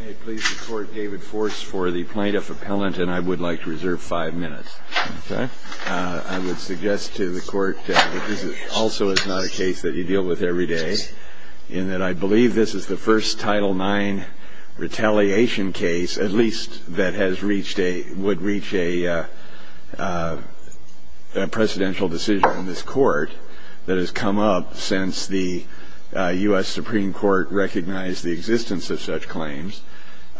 May it please the Court, David Force for the Plaintiff Appellant, and I would like to reserve five minutes. I would suggest to the Court that this also is not a case that you deal with every day, in that I believe this is the first Title IX retaliation case, at least, that would reach a presidential decision in this Court that has come up since the U.S. Supreme Court recognized the existence of such claims.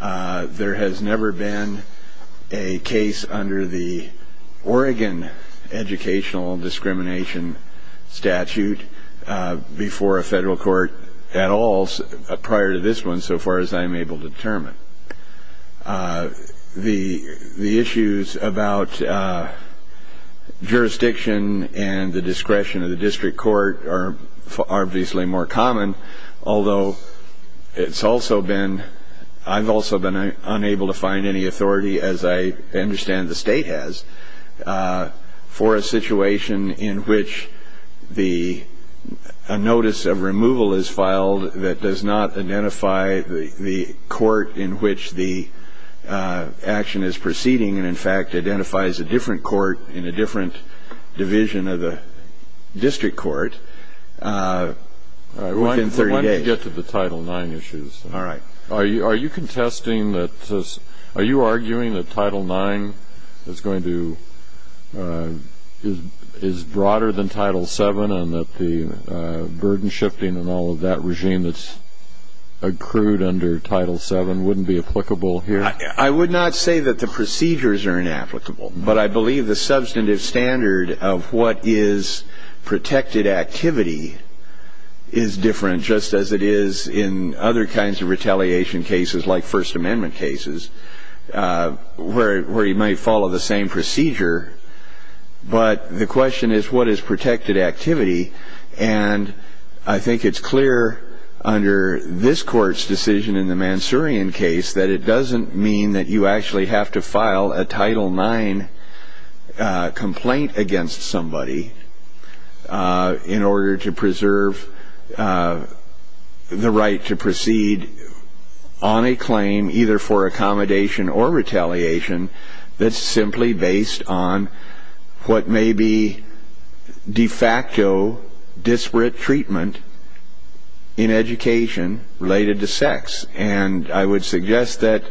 There has never been a case under the Oregon Educational Discrimination Statute before a federal court at all prior to this one, so far as I'm able to determine. The issues about jurisdiction and the discretion of the district court are obviously more common, although I've also been unable to find any authority, as I understand the State has, for a situation in which a notice of removal is filed that does not identify the court in which the action is proceeding, and, in fact, identifies a different court in a different division of the district court within 30 days. Why don't we get to the Title IX issues? All right. Are you contesting that this – are you arguing that Title IX is going to – is broader than Title VII and that the burden shifting and all of that regime that's accrued under Title VII wouldn't be applicable here? I would not say that the procedures are inapplicable, but I believe the substantive standard of what is protected activity is different, just as it is in other kinds of retaliation cases like First Amendment cases, where you might follow the same procedure. But the question is what is protected activity, and I think it's clear under this Court's decision in the Mansourian case that it doesn't mean that you actually have to file a Title IX complaint against somebody in order to preserve the right to proceed on a claim either for accommodation or retaliation that's simply based on what may be de facto disparate treatment in education related to sex. And I would suggest that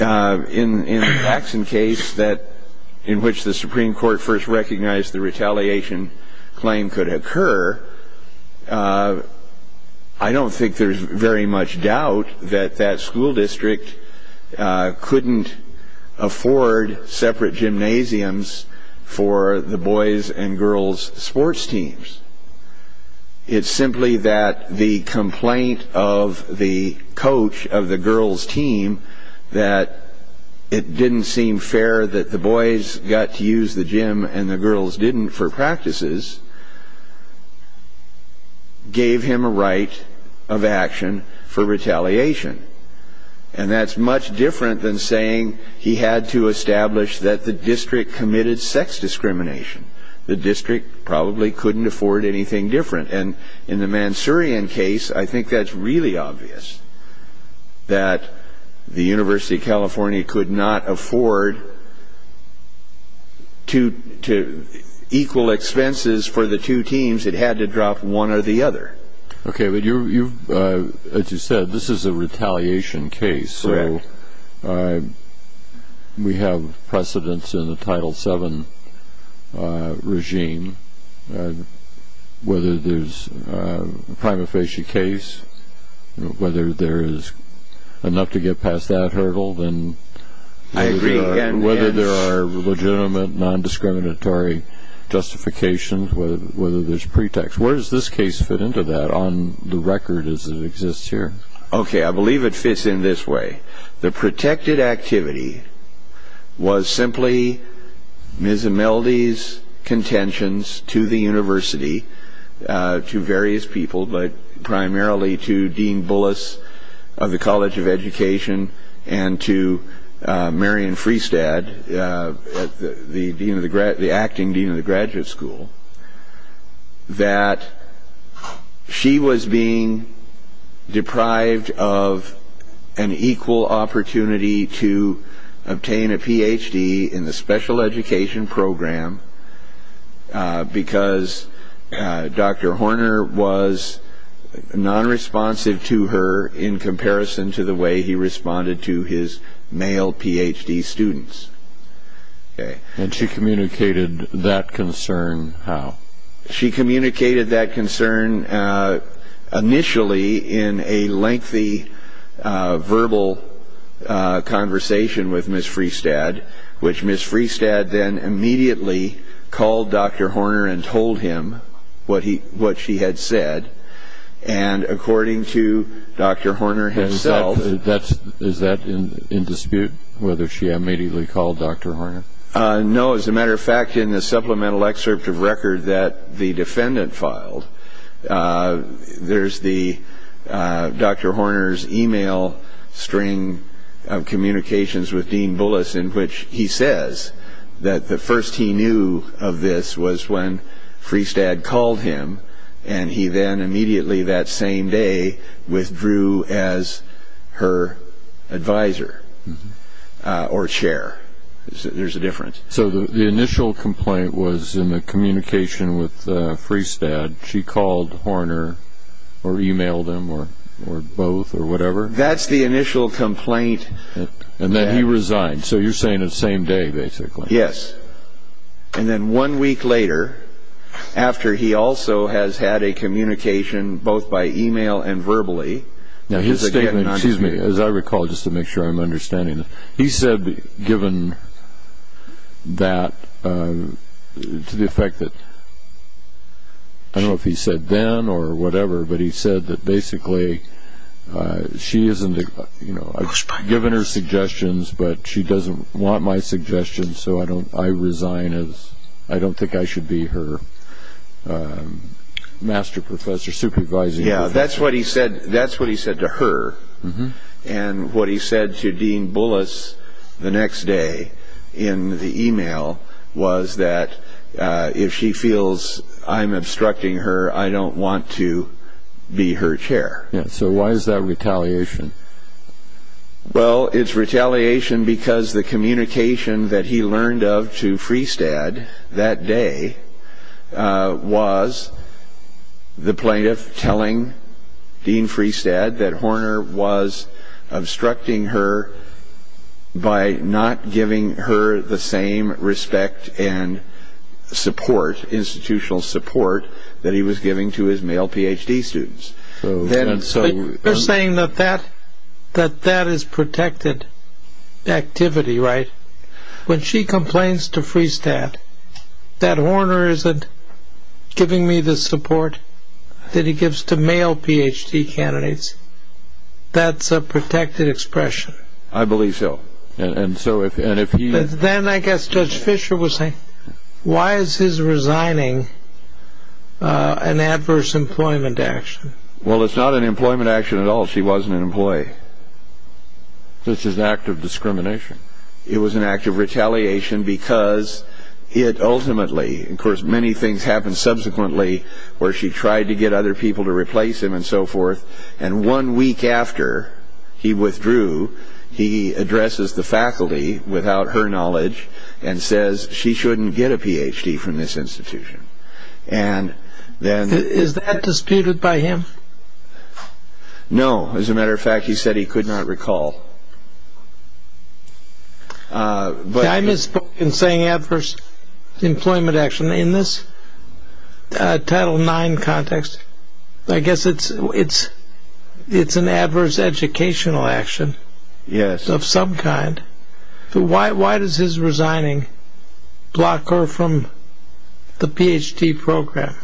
in the Paxson case that – in which the Supreme Court first recognized the retaliation claim could occur, I don't think there's very much doubt that that school district couldn't afford separate gymnasiums for the boys' and girls' sports teams. It's simply that the complaint of the coach of the girls' team that it didn't seem fair that the boys got to use the gym and the girls didn't for practices gave him a right of action for retaliation. And that's much different than saying he had to establish that the district committed sex discrimination. The district probably couldn't afford anything different. And in the Mansourian case, I think that's really obvious, that the University of California could not afford equal expenses for the two teams. It had to drop one or the other. Okay, but you've – as you said, this is a retaliation case. Correct. So we have precedence in the Title VII regime, whether there's a prima facie case, whether there is enough to get past that hurdle, and whether there are legitimate non-discriminatory justifications, whether there's pretext. Where does this case fit into that on the record as it exists here? Okay, I believe it fits in this way. The protected activity was simply Ms. Imeldi's contentions to the university, to various people, but primarily to Dean Bullis of the College of Education and to Marion Freestad, the acting dean of the graduate school, that she was being deprived of an equal opportunity to obtain a Ph.D. in the special education program because Dr. Horner was non-responsive to her in comparison to the way he responded to his male Ph.D. students. And she communicated that concern how? She communicated that concern initially in a lengthy verbal conversation with Ms. Freestad, which Ms. Freestad then immediately called Dr. Horner and told him what she had said, and according to Dr. Horner himself – Is that in dispute, whether she immediately called Dr. Horner? No, as a matter of fact, in the supplemental excerpt of record that the defendant filed, there's Dr. Horner's email string of communications with Dean Bullis in which he says that the first he knew of this was when Freestad called him, and he then immediately that same day withdrew as her advisor or chair. There's a difference. So the initial complaint was in the communication with Freestad. She called Horner or emailed him or both or whatever? That's the initial complaint. And then he resigned. So you're saying the same day, basically. Yes. And then one week later, after he also has had a communication both by email and verbally, Now his statement, as I recall, just to make sure I'm understanding this, he said given that, to the effect that, I don't know if he said then or whatever, but he said that basically she isn't, you know, I've given her suggestions, but she doesn't want my suggestions, so I resign as I don't think I should be her master professor, supervising professor. Yeah, that's what he said to her. And what he said to Dean Bullis the next day in the email was that if she feels I'm obstructing her, I don't want to be her chair. So why is that retaliation? Well, it's retaliation because the communication that he learned of to Freestad that day was the plaintiff telling Dean Freestad that Horner was obstructing her by not giving her the same respect and support, institutional support, that he was giving to his male PhD students. They're saying that that is protected activity, right? When she complains to Freestad that Horner isn't giving me the support that he gives to male PhD candidates, that's a protected expression. I believe so. Then I guess Judge Fisher was saying, why is his resigning an adverse employment action? Well, it's not an employment action at all. She wasn't an employee. This is an act of discrimination. It was an act of retaliation because it ultimately, of course, many things happened subsequently where she tried to get other people to replace him and so forth, and one week after he withdrew, he addresses the faculty without her knowledge and says she shouldn't get a PhD from this institution. Is that disputed by him? No. As a matter of fact, he said he could not recall. I misspoke in saying adverse employment action. In this Title IX context, I guess it's an adverse educational action of some kind. Why does his resigning block her from the PhD program?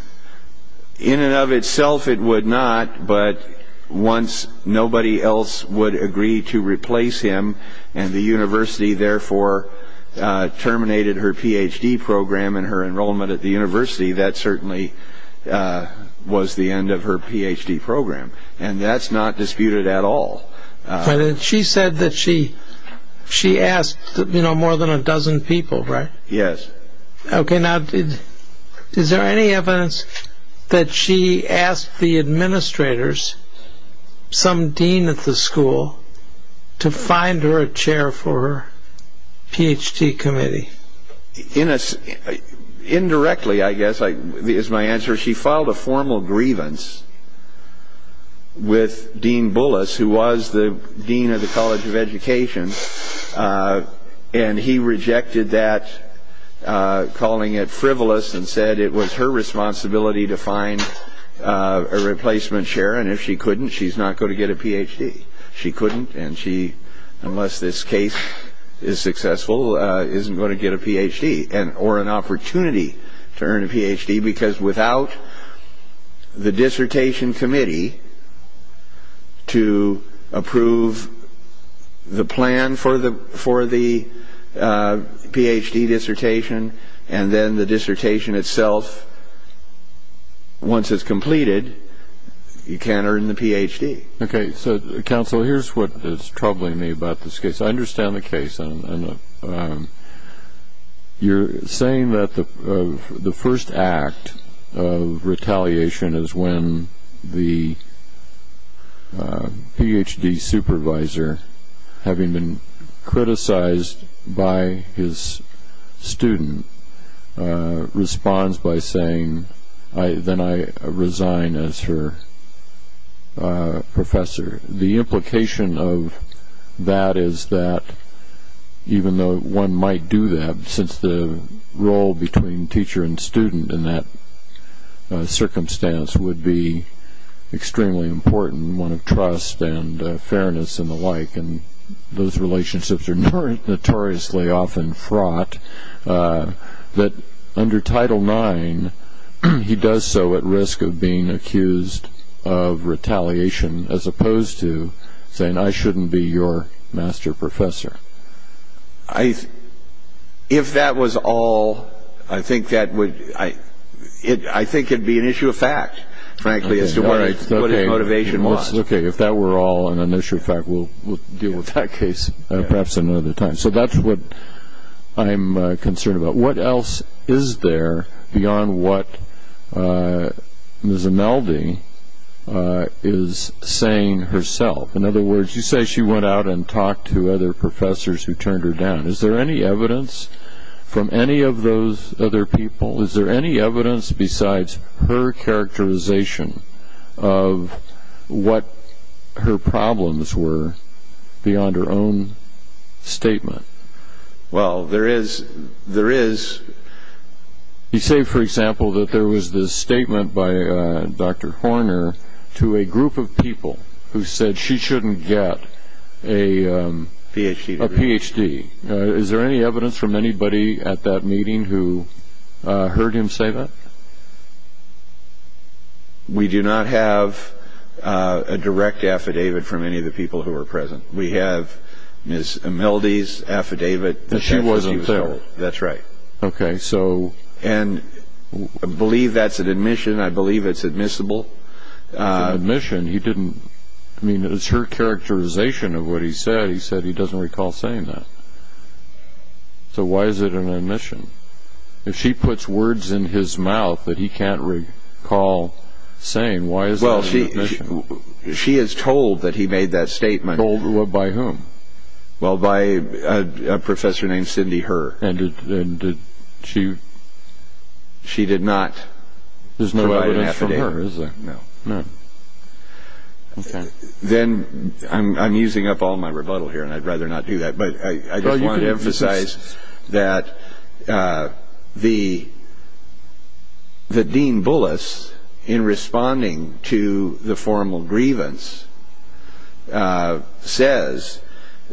In and of itself, it would not, but once nobody else would agree to replace him and the university therefore terminated her PhD program and her enrollment at the university, that certainly was the end of her PhD program, and that's not disputed at all. She said that she asked more than a dozen people, right? Yes. Okay. Now, is there any evidence that she asked the administrators, some dean at the school, to find her a chair for her PhD committee? Indirectly, I guess, is my answer. She filed a formal grievance with Dean Bullis, who was the dean of the College of Education, and he rejected that, calling it frivolous, and said it was her responsibility to find a replacement chair, and if she couldn't, she's not going to get a PhD. She couldn't, and she, unless this case is successful, isn't going to get a PhD or an opportunity to earn a PhD, because without the dissertation committee to approve the plan for the PhD dissertation, and then the dissertation itself, once it's completed, you can't earn the PhD. Okay. So, counsel, here's what is troubling me about this case. I understand the case. You're saying that the first act of retaliation is when the PhD supervisor, having been criticized by his student, responds by saying, then I resign as her professor. The implication of that is that, even though one might do that, since the role between teacher and student in that circumstance would be extremely important, one of trust and fairness and the like, and those relationships are notoriously often fraught, that under Title IX, he does so at risk of being accused of retaliation, as opposed to saying, I shouldn't be your master professor. If that was all, I think it would be an issue of fact, frankly, as to what his motivation was. Okay, if that were all an issue of fact, we'll deal with that case perhaps another time. So that's what I'm concerned about. What else is there beyond what Ms. Imeldi is saying herself? In other words, you say she went out and talked to other professors who turned her down. Is there any evidence from any of those other people? Is there any evidence besides her characterization of what her problems were beyond her own statement? Well, there is. You say, for example, that there was this statement by Dr. Horner to a group of people who said she shouldn't get a Ph.D. Is there any evidence from anybody at that meeting who heard him say that? We do not have a direct affidavit from any of the people who were present. We have Ms. Imeldi's affidavit. That she wasn't there. That's right. Okay, so. And I believe that's an admission. I believe it's admissible. Admission? He didn't, I mean, it was her characterization of what he said. He said he doesn't recall saying that. So why is it an admission? If she puts words in his mouth that he can't recall saying, why is that an admission? Well, she is told that he made that statement. Told by whom? Well, by a professor named Cindy Herr. And did she? She did not provide an affidavit. There's no evidence from her, is there? No. No. Okay. Then, I'm using up all my rebuttal here, and I'd rather not do that. But I just wanted to emphasize that the Dean Bullis, in responding to the formal grievance, says,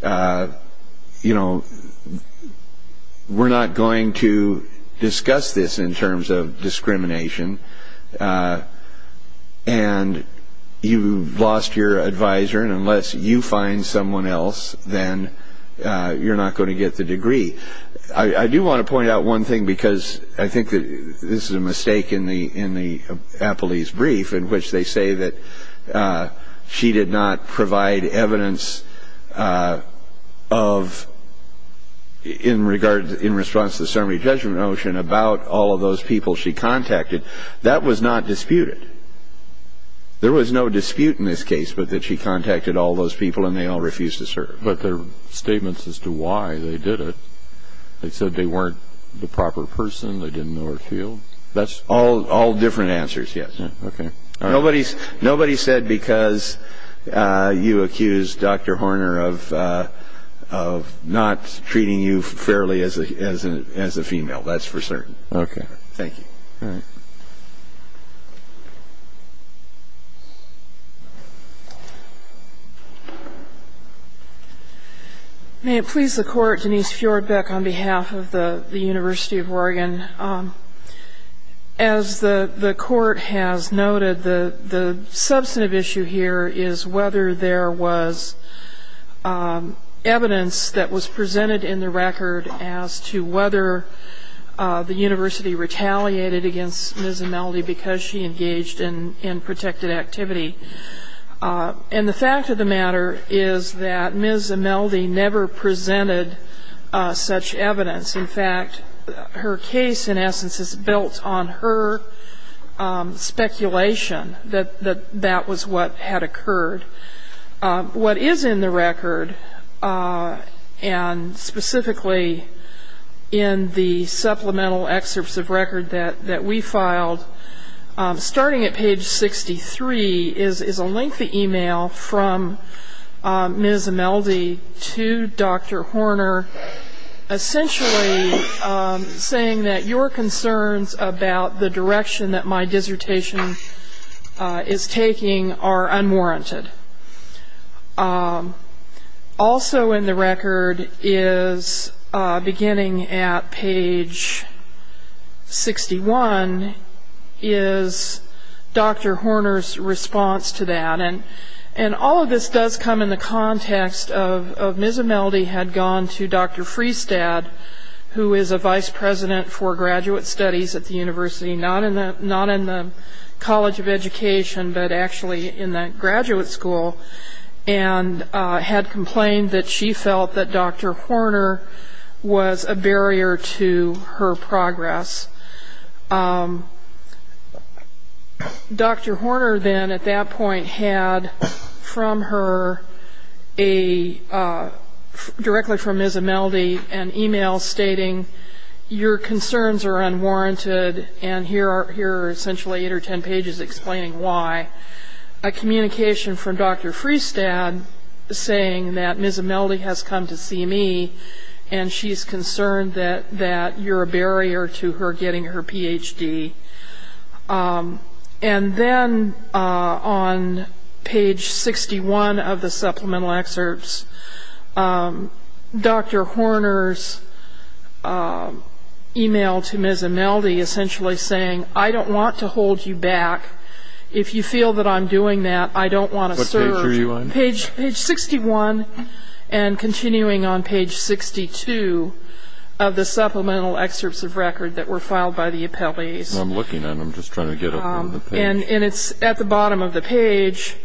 you know, we're not going to discuss this in terms of discrimination. And you've lost your advisor, and unless you find someone else, then you're not going to get the degree. I do want to point out one thing, because I think that this is a mistake in the appellee's brief, in which they say that she did not provide evidence in response to the summary judgment notion about all of those people she contacted. That was not disputed. There was no dispute in this case, but that she contacted all those people and they all refused to serve. But their statements as to why they did it, they said they weren't the proper person, they didn't know her field. That's all different answers, yes. Okay. Nobody said because you accused Dr. Horner of not treating you fairly as a female. That's for certain. Okay. Thank you. All right. May it please the Court, Denise Fjordbeck on behalf of the University of Oregon. As the Court has noted, the substantive issue here is whether there was evidence that was presented in the record as to whether the university retaliated against Ms. Imeldi because she engaged in protected activity. And the fact of the matter is that Ms. Imeldi never presented such evidence. In fact, her case, in essence, is built on her speculation that that was what had occurred. What is in the record, and specifically in the supplemental excerpts of record that we filed, starting at page 63 is a lengthy e-mail from Ms. Imeldi to Dr. Horner, essentially saying that your concerns about the direction that my dissertation is taking are unwarranted. Also in the record is, beginning at page 61, is Dr. Horner's response to that. And all of this does come in the context of Ms. Imeldi had gone to Dr. Friestad, who is a vice president for graduate studies at the university, not in the College of Education, but actually in the graduate school, and had complained that she felt that Dr. Horner was a barrier to her progress. Dr. Horner then, at that point, had from her, directly from Ms. Imeldi, an e-mail stating, your concerns are unwarranted, and here are essentially eight or ten pages explaining why. A communication from Dr. Friestad saying that Ms. Imeldi has come to see me, and she's concerned that you're a barrier to her getting her Ph.D. And then on page 61 of the supplemental excerpts, Dr. Horner's e-mail to Ms. Imeldi essentially saying, I don't want to hold you back. If you feel that I'm doing that, I don't want to serve you. What page are you on? Page 61, and continuing on page 62 of the supplemental excerpts of record that were filed by the appellees. I'm looking at them, just trying to get up on the page. And it's at the bottom of the page.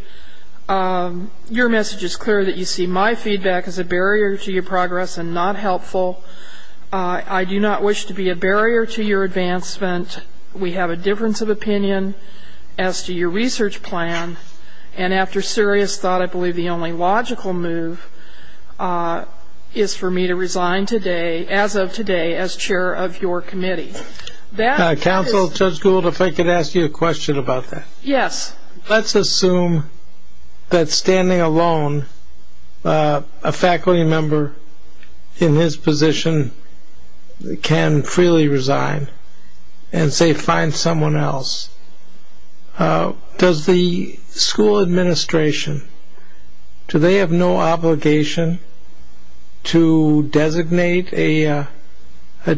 Your message is clear that you see my feedback as a barrier to your progress and not helpful. I do not wish to be a barrier to your advancement. We have a difference of opinion as to your research plan. And after serious thought, I believe the only logical move is for me to resign today, as of today, as chair of your committee. Counsel, Judge Gould, if I could ask you a question about that. Yes. Let's assume that standing alone, a faculty member in his position can freely resign and, say, find someone else. Does the school administration, do they have no obligation to designate a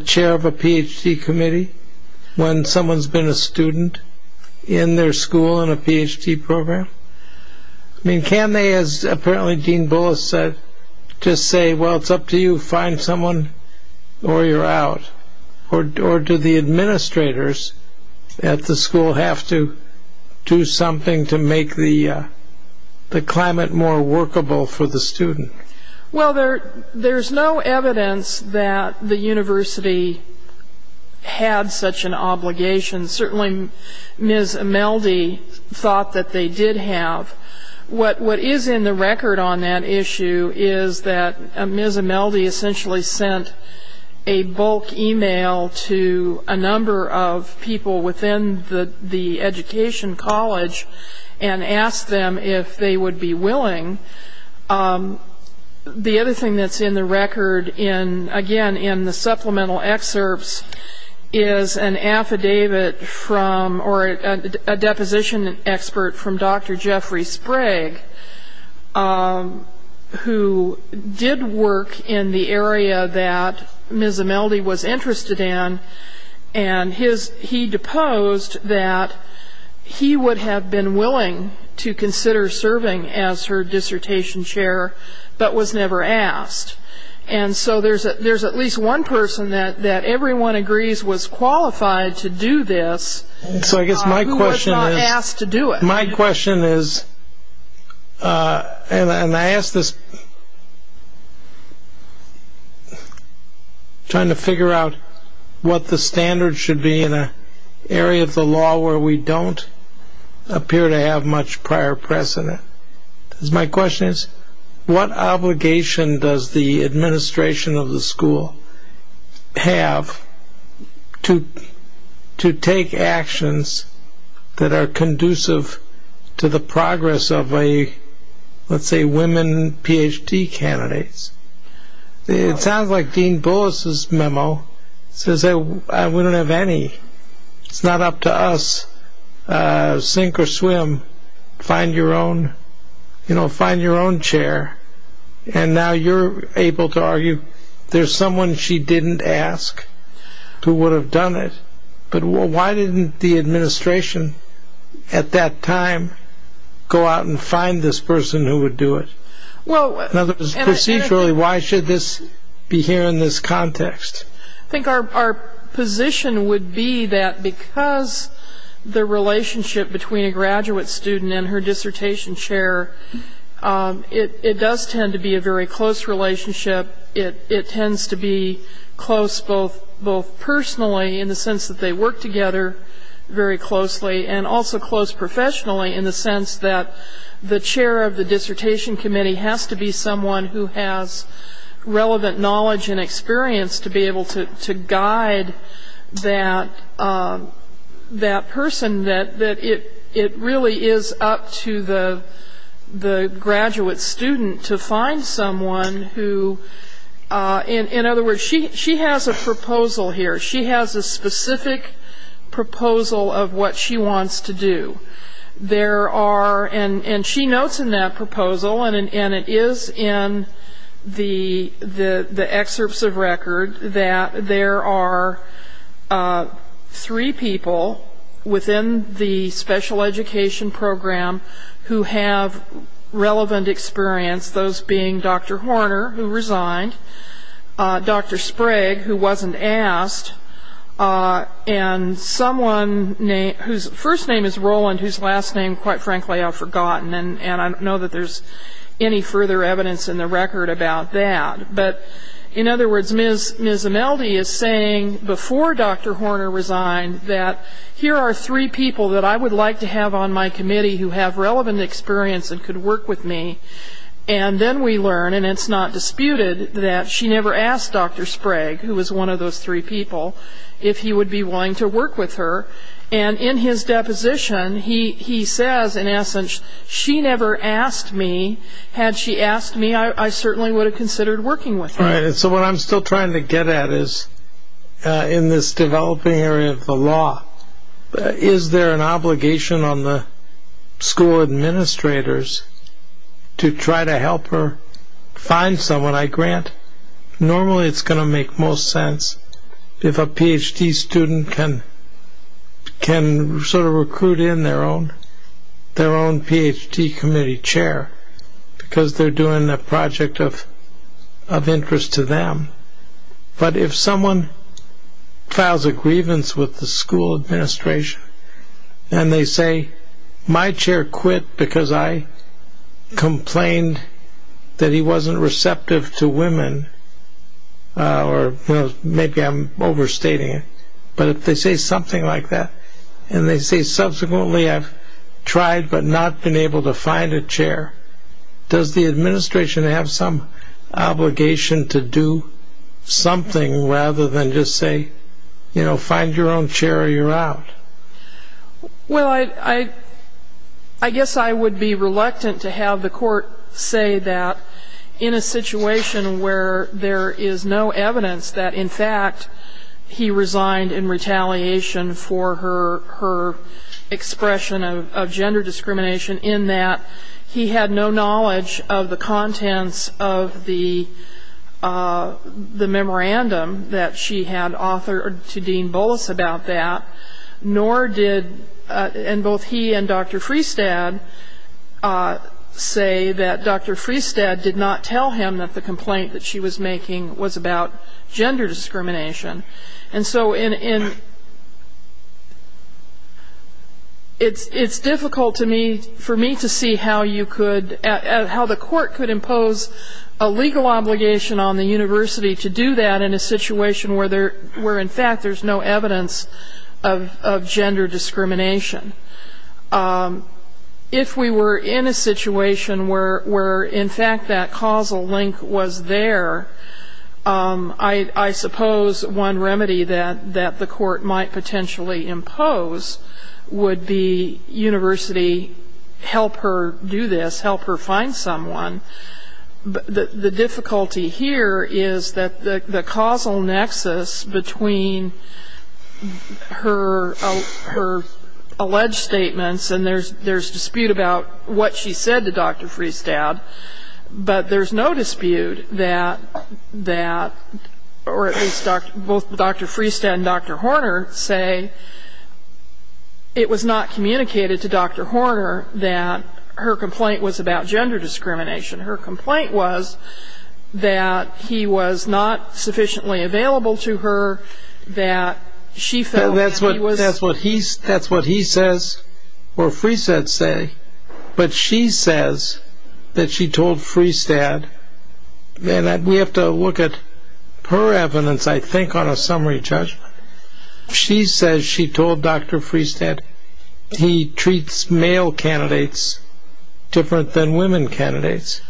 chair of a Ph.D. committee when someone's been a student in their school in a Ph.D. program? I mean, can they, as apparently Dean Bullis said, just say, well, it's up to you, find someone or you're out? Or do the administrators at the school have to do something to make the climate more workable for the student? Well, there's no evidence that the university had such an obligation. Certainly, Ms. Imeldi thought that they did have. What is in the record on that issue is that Ms. Imeldi essentially sent a bulk e-mail to a number of people within the education college and asked them if they would be willing. The other thing that's in the record, again, in the supplemental excerpts, is an affidavit from, or a deposition expert from Dr. Jeffrey Sprague, who did work in the area that Ms. Imeldi was interested in, and he deposed that he would have been willing to consider serving as her dissertation chair but was never asked. And so there's at least one person that everyone agrees was qualified to do this who was not asked to do it. My question is, and I ask this trying to figure out what the standards should be in an area of the law where we don't appear to have much prior precedent. My question is, what obligation does the administration of the school have to take actions that are conducive to the progress of, let's say, women Ph.D. candidates? It sounds like Dean Bullis' memo says that we don't have any. It's not up to us, sink or swim, find your own chair. And now you're able to argue there's someone she didn't ask who would have done it, but why didn't the administration at that time go out and find this person who would do it? In other words, procedurally, why should this be here in this context? I think our position would be that because the relationship between a graduate student and her dissertation chair, it does tend to be a very close relationship. It tends to be close both personally in the sense that they work together very closely and also close professionally in the sense that the chair of the dissertation committee has to be someone who has relevant knowledge and experience to be able to guide that person, that it really is up to the graduate student to find someone who, in other words, she has a proposal here. She has a specific proposal of what she wants to do. And she notes in that proposal, and it is in the excerpts of record, that there are three people within the special education program who have relevant experience, those being Dr. Horner, who resigned, Dr. Sprague, who wasn't asked, and someone whose first name is Roland, whose last name, quite frankly, I've forgotten, and I don't know that there's any further evidence in the record about that. But, in other words, Ms. Imeldi is saying, before Dr. Horner resigned, that here are three people that I would like to have on my committee who have relevant experience and could work with me, and then we learn, and it's not disputed, that she never asked Dr. Sprague, who was one of those three people, if he would be willing to work with her. And in his deposition, he says, in essence, she never asked me. Had she asked me, I certainly would have considered working with her. Right, and so what I'm still trying to get at is, in this developing area of the law, is there an obligation on the school administrators to try to help her find someone? And I grant, normally it's going to make most sense if a Ph.D. student can sort of recruit in their own Ph.D. committee chair, because they're doing a project of interest to them. But if someone files a grievance with the school administration, and they say, my chair quit because I complained that he wasn't receptive to women, or maybe I'm overstating it, but if they say something like that, and they say subsequently I've tried but not been able to find a chair, does the administration have some obligation to do something rather than just say, you know, find your own chair or you're out? Well, I guess I would be reluctant to have the court say that in a situation where there is no evidence that, in fact, he resigned in retaliation for her expression of gender discrimination in that he had no knowledge of the contents of the memorandum that she had authored to Dean Bullis about that, nor did, and both he and Dr. Freestad say that Dr. Freestad did not tell him that the complaint that she was making was about gender discrimination. And so it's difficult to me, for me to see how you could, how the court could impose a legal obligation on the university to do that in a situation where, in fact, there's no evidence of gender discrimination. If we were in a situation where, in fact, that causal link was there, I suppose one remedy that the court might potentially impose would be university help her do this, help her find someone. But the difficulty here is that the causal nexus between her alleged statements, and there's dispute about what she said to Dr. Freestad, but there's no dispute that, or at least both Dr. Freestad and Dr. Horner say it was not communicated to Dr. Horner that her complaint was about gender discrimination. Her complaint was that he was not sufficiently available to her, that she felt that he was- Or Freestad say, but she says that she told Freestad, and we have to look at her evidence, I think, on a summary judgment. She says she told Dr. Freestad he treats male candidates different than women candidates.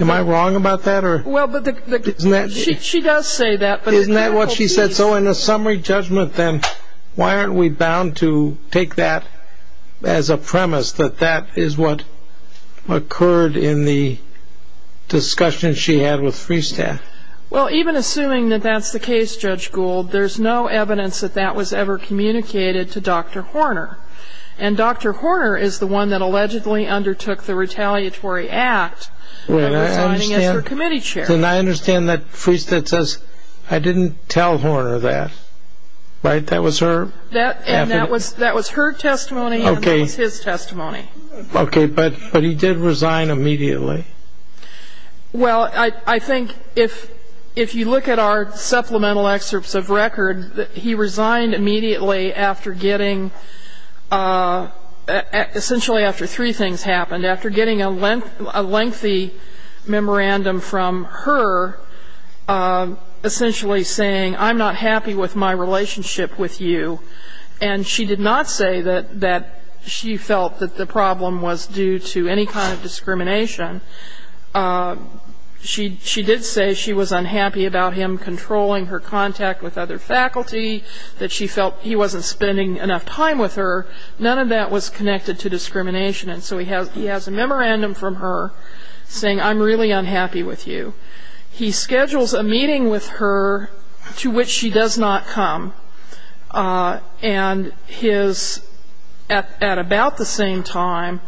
Am I wrong about that, or- Well, but the- Isn't that- She does say that, but- As a premise, that that is what occurred in the discussion she had with Freestad. Well, even assuming that that's the case, Judge Gould, there's no evidence that that was ever communicated to Dr. Horner. And Dr. Horner is the one that allegedly undertook the retaliatory act of resigning as her committee chair. And I understand that Freestad says, I didn't tell Horner that, right? That was her- And that was her testimony, and that was his testimony. Okay. But he did resign immediately. Well, I think if you look at our supplemental excerpts of record, he resigned immediately after getting, essentially after three things happened, after getting a lengthy memorandum from her, essentially saying, I'm not happy with my relationship with you. And she did not say that she felt that the problem was due to any kind of discrimination. She did say she was unhappy about him controlling her contact with other faculty, that she felt he wasn't spending enough time with her. None of that was connected to discrimination. And so he has a memorandum from her saying, I'm really unhappy with you. He schedules a meeting with her to which she does not come. And at about the same time,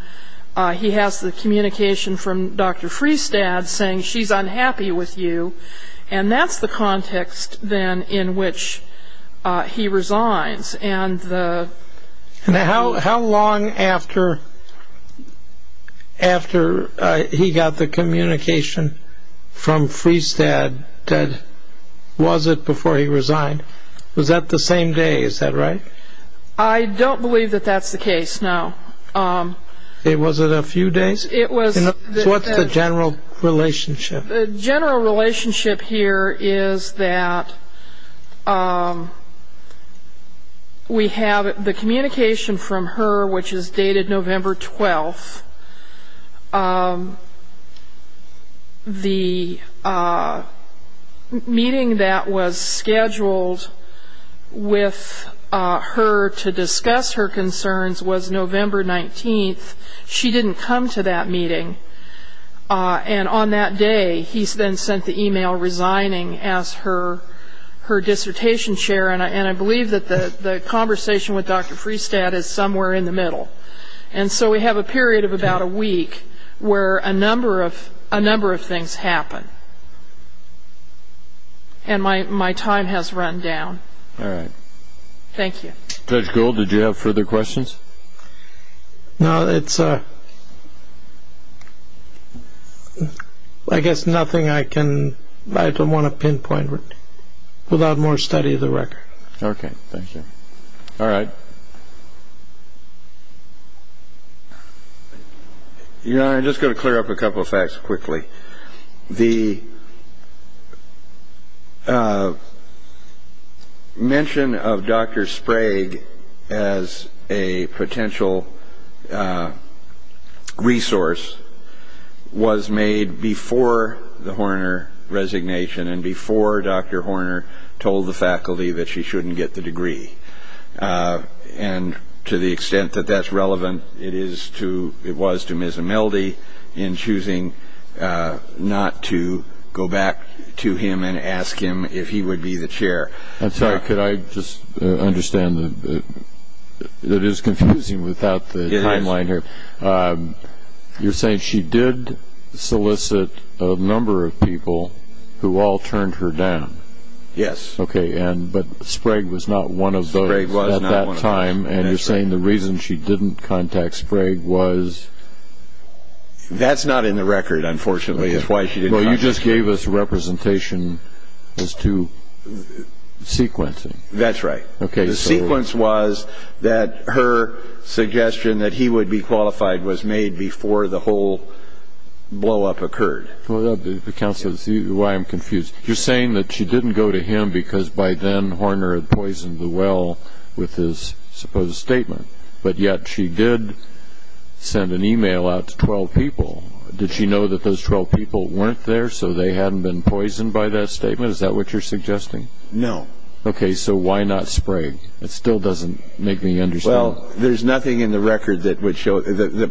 he has the communication from Dr. Freestad saying, she's unhappy with you. And that's the context, then, in which he resigns. And how long after he got the communication from Freestad that was it before he resigned? Was that the same day? Is that right? I don't believe that that's the case, no. Was it a few days? It was. So what's the general relationship? The general relationship here is that we have the communication from her, which is dated November 12th. The meeting that was scheduled with her to discuss her concerns was November 19th. She didn't come to that meeting. And on that day, he then sent the email resigning as her dissertation chair. And I believe that the conversation with Dr. Freestad is somewhere in the middle. And so we have a period of about a week where a number of things happen. And my time has run down. All right. Thank you. Judge Gould, did you have further questions? No. I guess nothing I can—I don't want to pinpoint without more study of the record. Okay. Thank you. All right. Your Honor, I'm just going to clear up a couple of facts quickly. The mention of Dr. Sprague as a potential resource was made before the Horner resignation and before Dr. Horner told the faculty that she shouldn't get the degree. And to the extent that that's relevant, it was to Ms. Imeldi in choosing not to go back to him and ask him if he would be the chair. I'm sorry. Could I just understand? It is confusing without the timeline here. You're saying she did solicit a number of people who all turned her down? Yes. Okay. But Sprague was not one of those at that time. Sprague was not one of those. And you're saying the reason she didn't contact Sprague was— That's not in the record, unfortunately. It's why she didn't contact Sprague. Well, you just gave us representation as to sequencing. That's right. Okay. The sequence was that her suggestion that he would be qualified was made before the whole blow-up occurred. Well, that's why I'm confused. You're saying that she didn't go to him because by then Horner had poisoned the well with his supposed statement, but yet she did send an e-mail out to 12 people. Did she know that those 12 people weren't there so they hadn't been poisoned by that statement? Is that what you're suggesting? No. Okay. So why not Sprague? It still doesn't make me understand. Well, there's nothing in the record that would show— The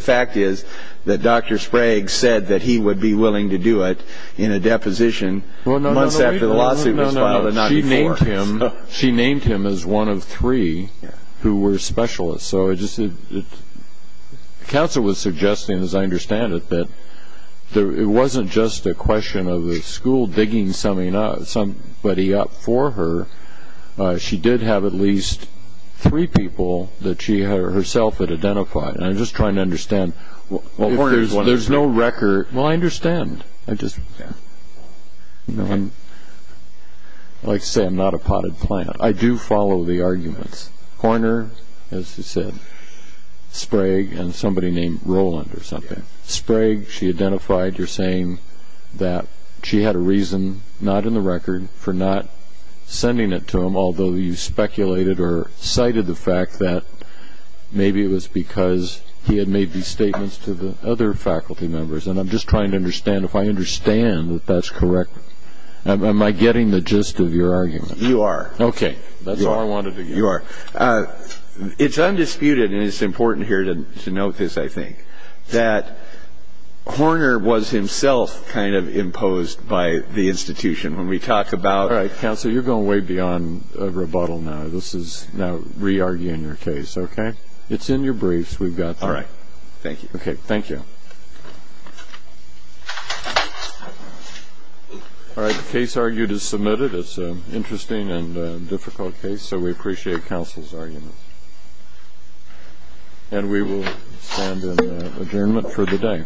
fact is that Dr. Sprague said that he would be willing to do it in a deposition months after the lawsuit was filed. She named him as one of three who were specialists. Counsel was suggesting, as I understand it, that it wasn't just a question of the school digging somebody up for her. She did have at least three people that she herself had identified, and I'm just trying to understand— Well, Horner's one of them. There's no record— Well, I understand. I just—I'd like to say I'm not a potted plant. I do follow the arguments. Horner, as you said, Sprague, and somebody named Roland or something. Sprague, she identified your saying that she had a reason, not in the record, for not sending it to him, although you speculated or cited the fact that maybe it was because he had made these statements to the other faculty members. And I'm just trying to understand, if I understand that that's correct, am I getting the gist of your argument? You are. Okay. That's all I wanted to get. You are. It's undisputed, and it's important here to note this, I think, that Horner was himself kind of imposed by the institution. When we talk about— All right. Counsel, you're going way beyond a rebuttal now. This is now re-arguing your case. Okay? It's in your briefs. We've got that. All right. Thank you. Okay. Thank you. All right. The case argued is submitted. It's an interesting and difficult case, so we appreciate counsel's argument. And we will stand in adjournment for the day.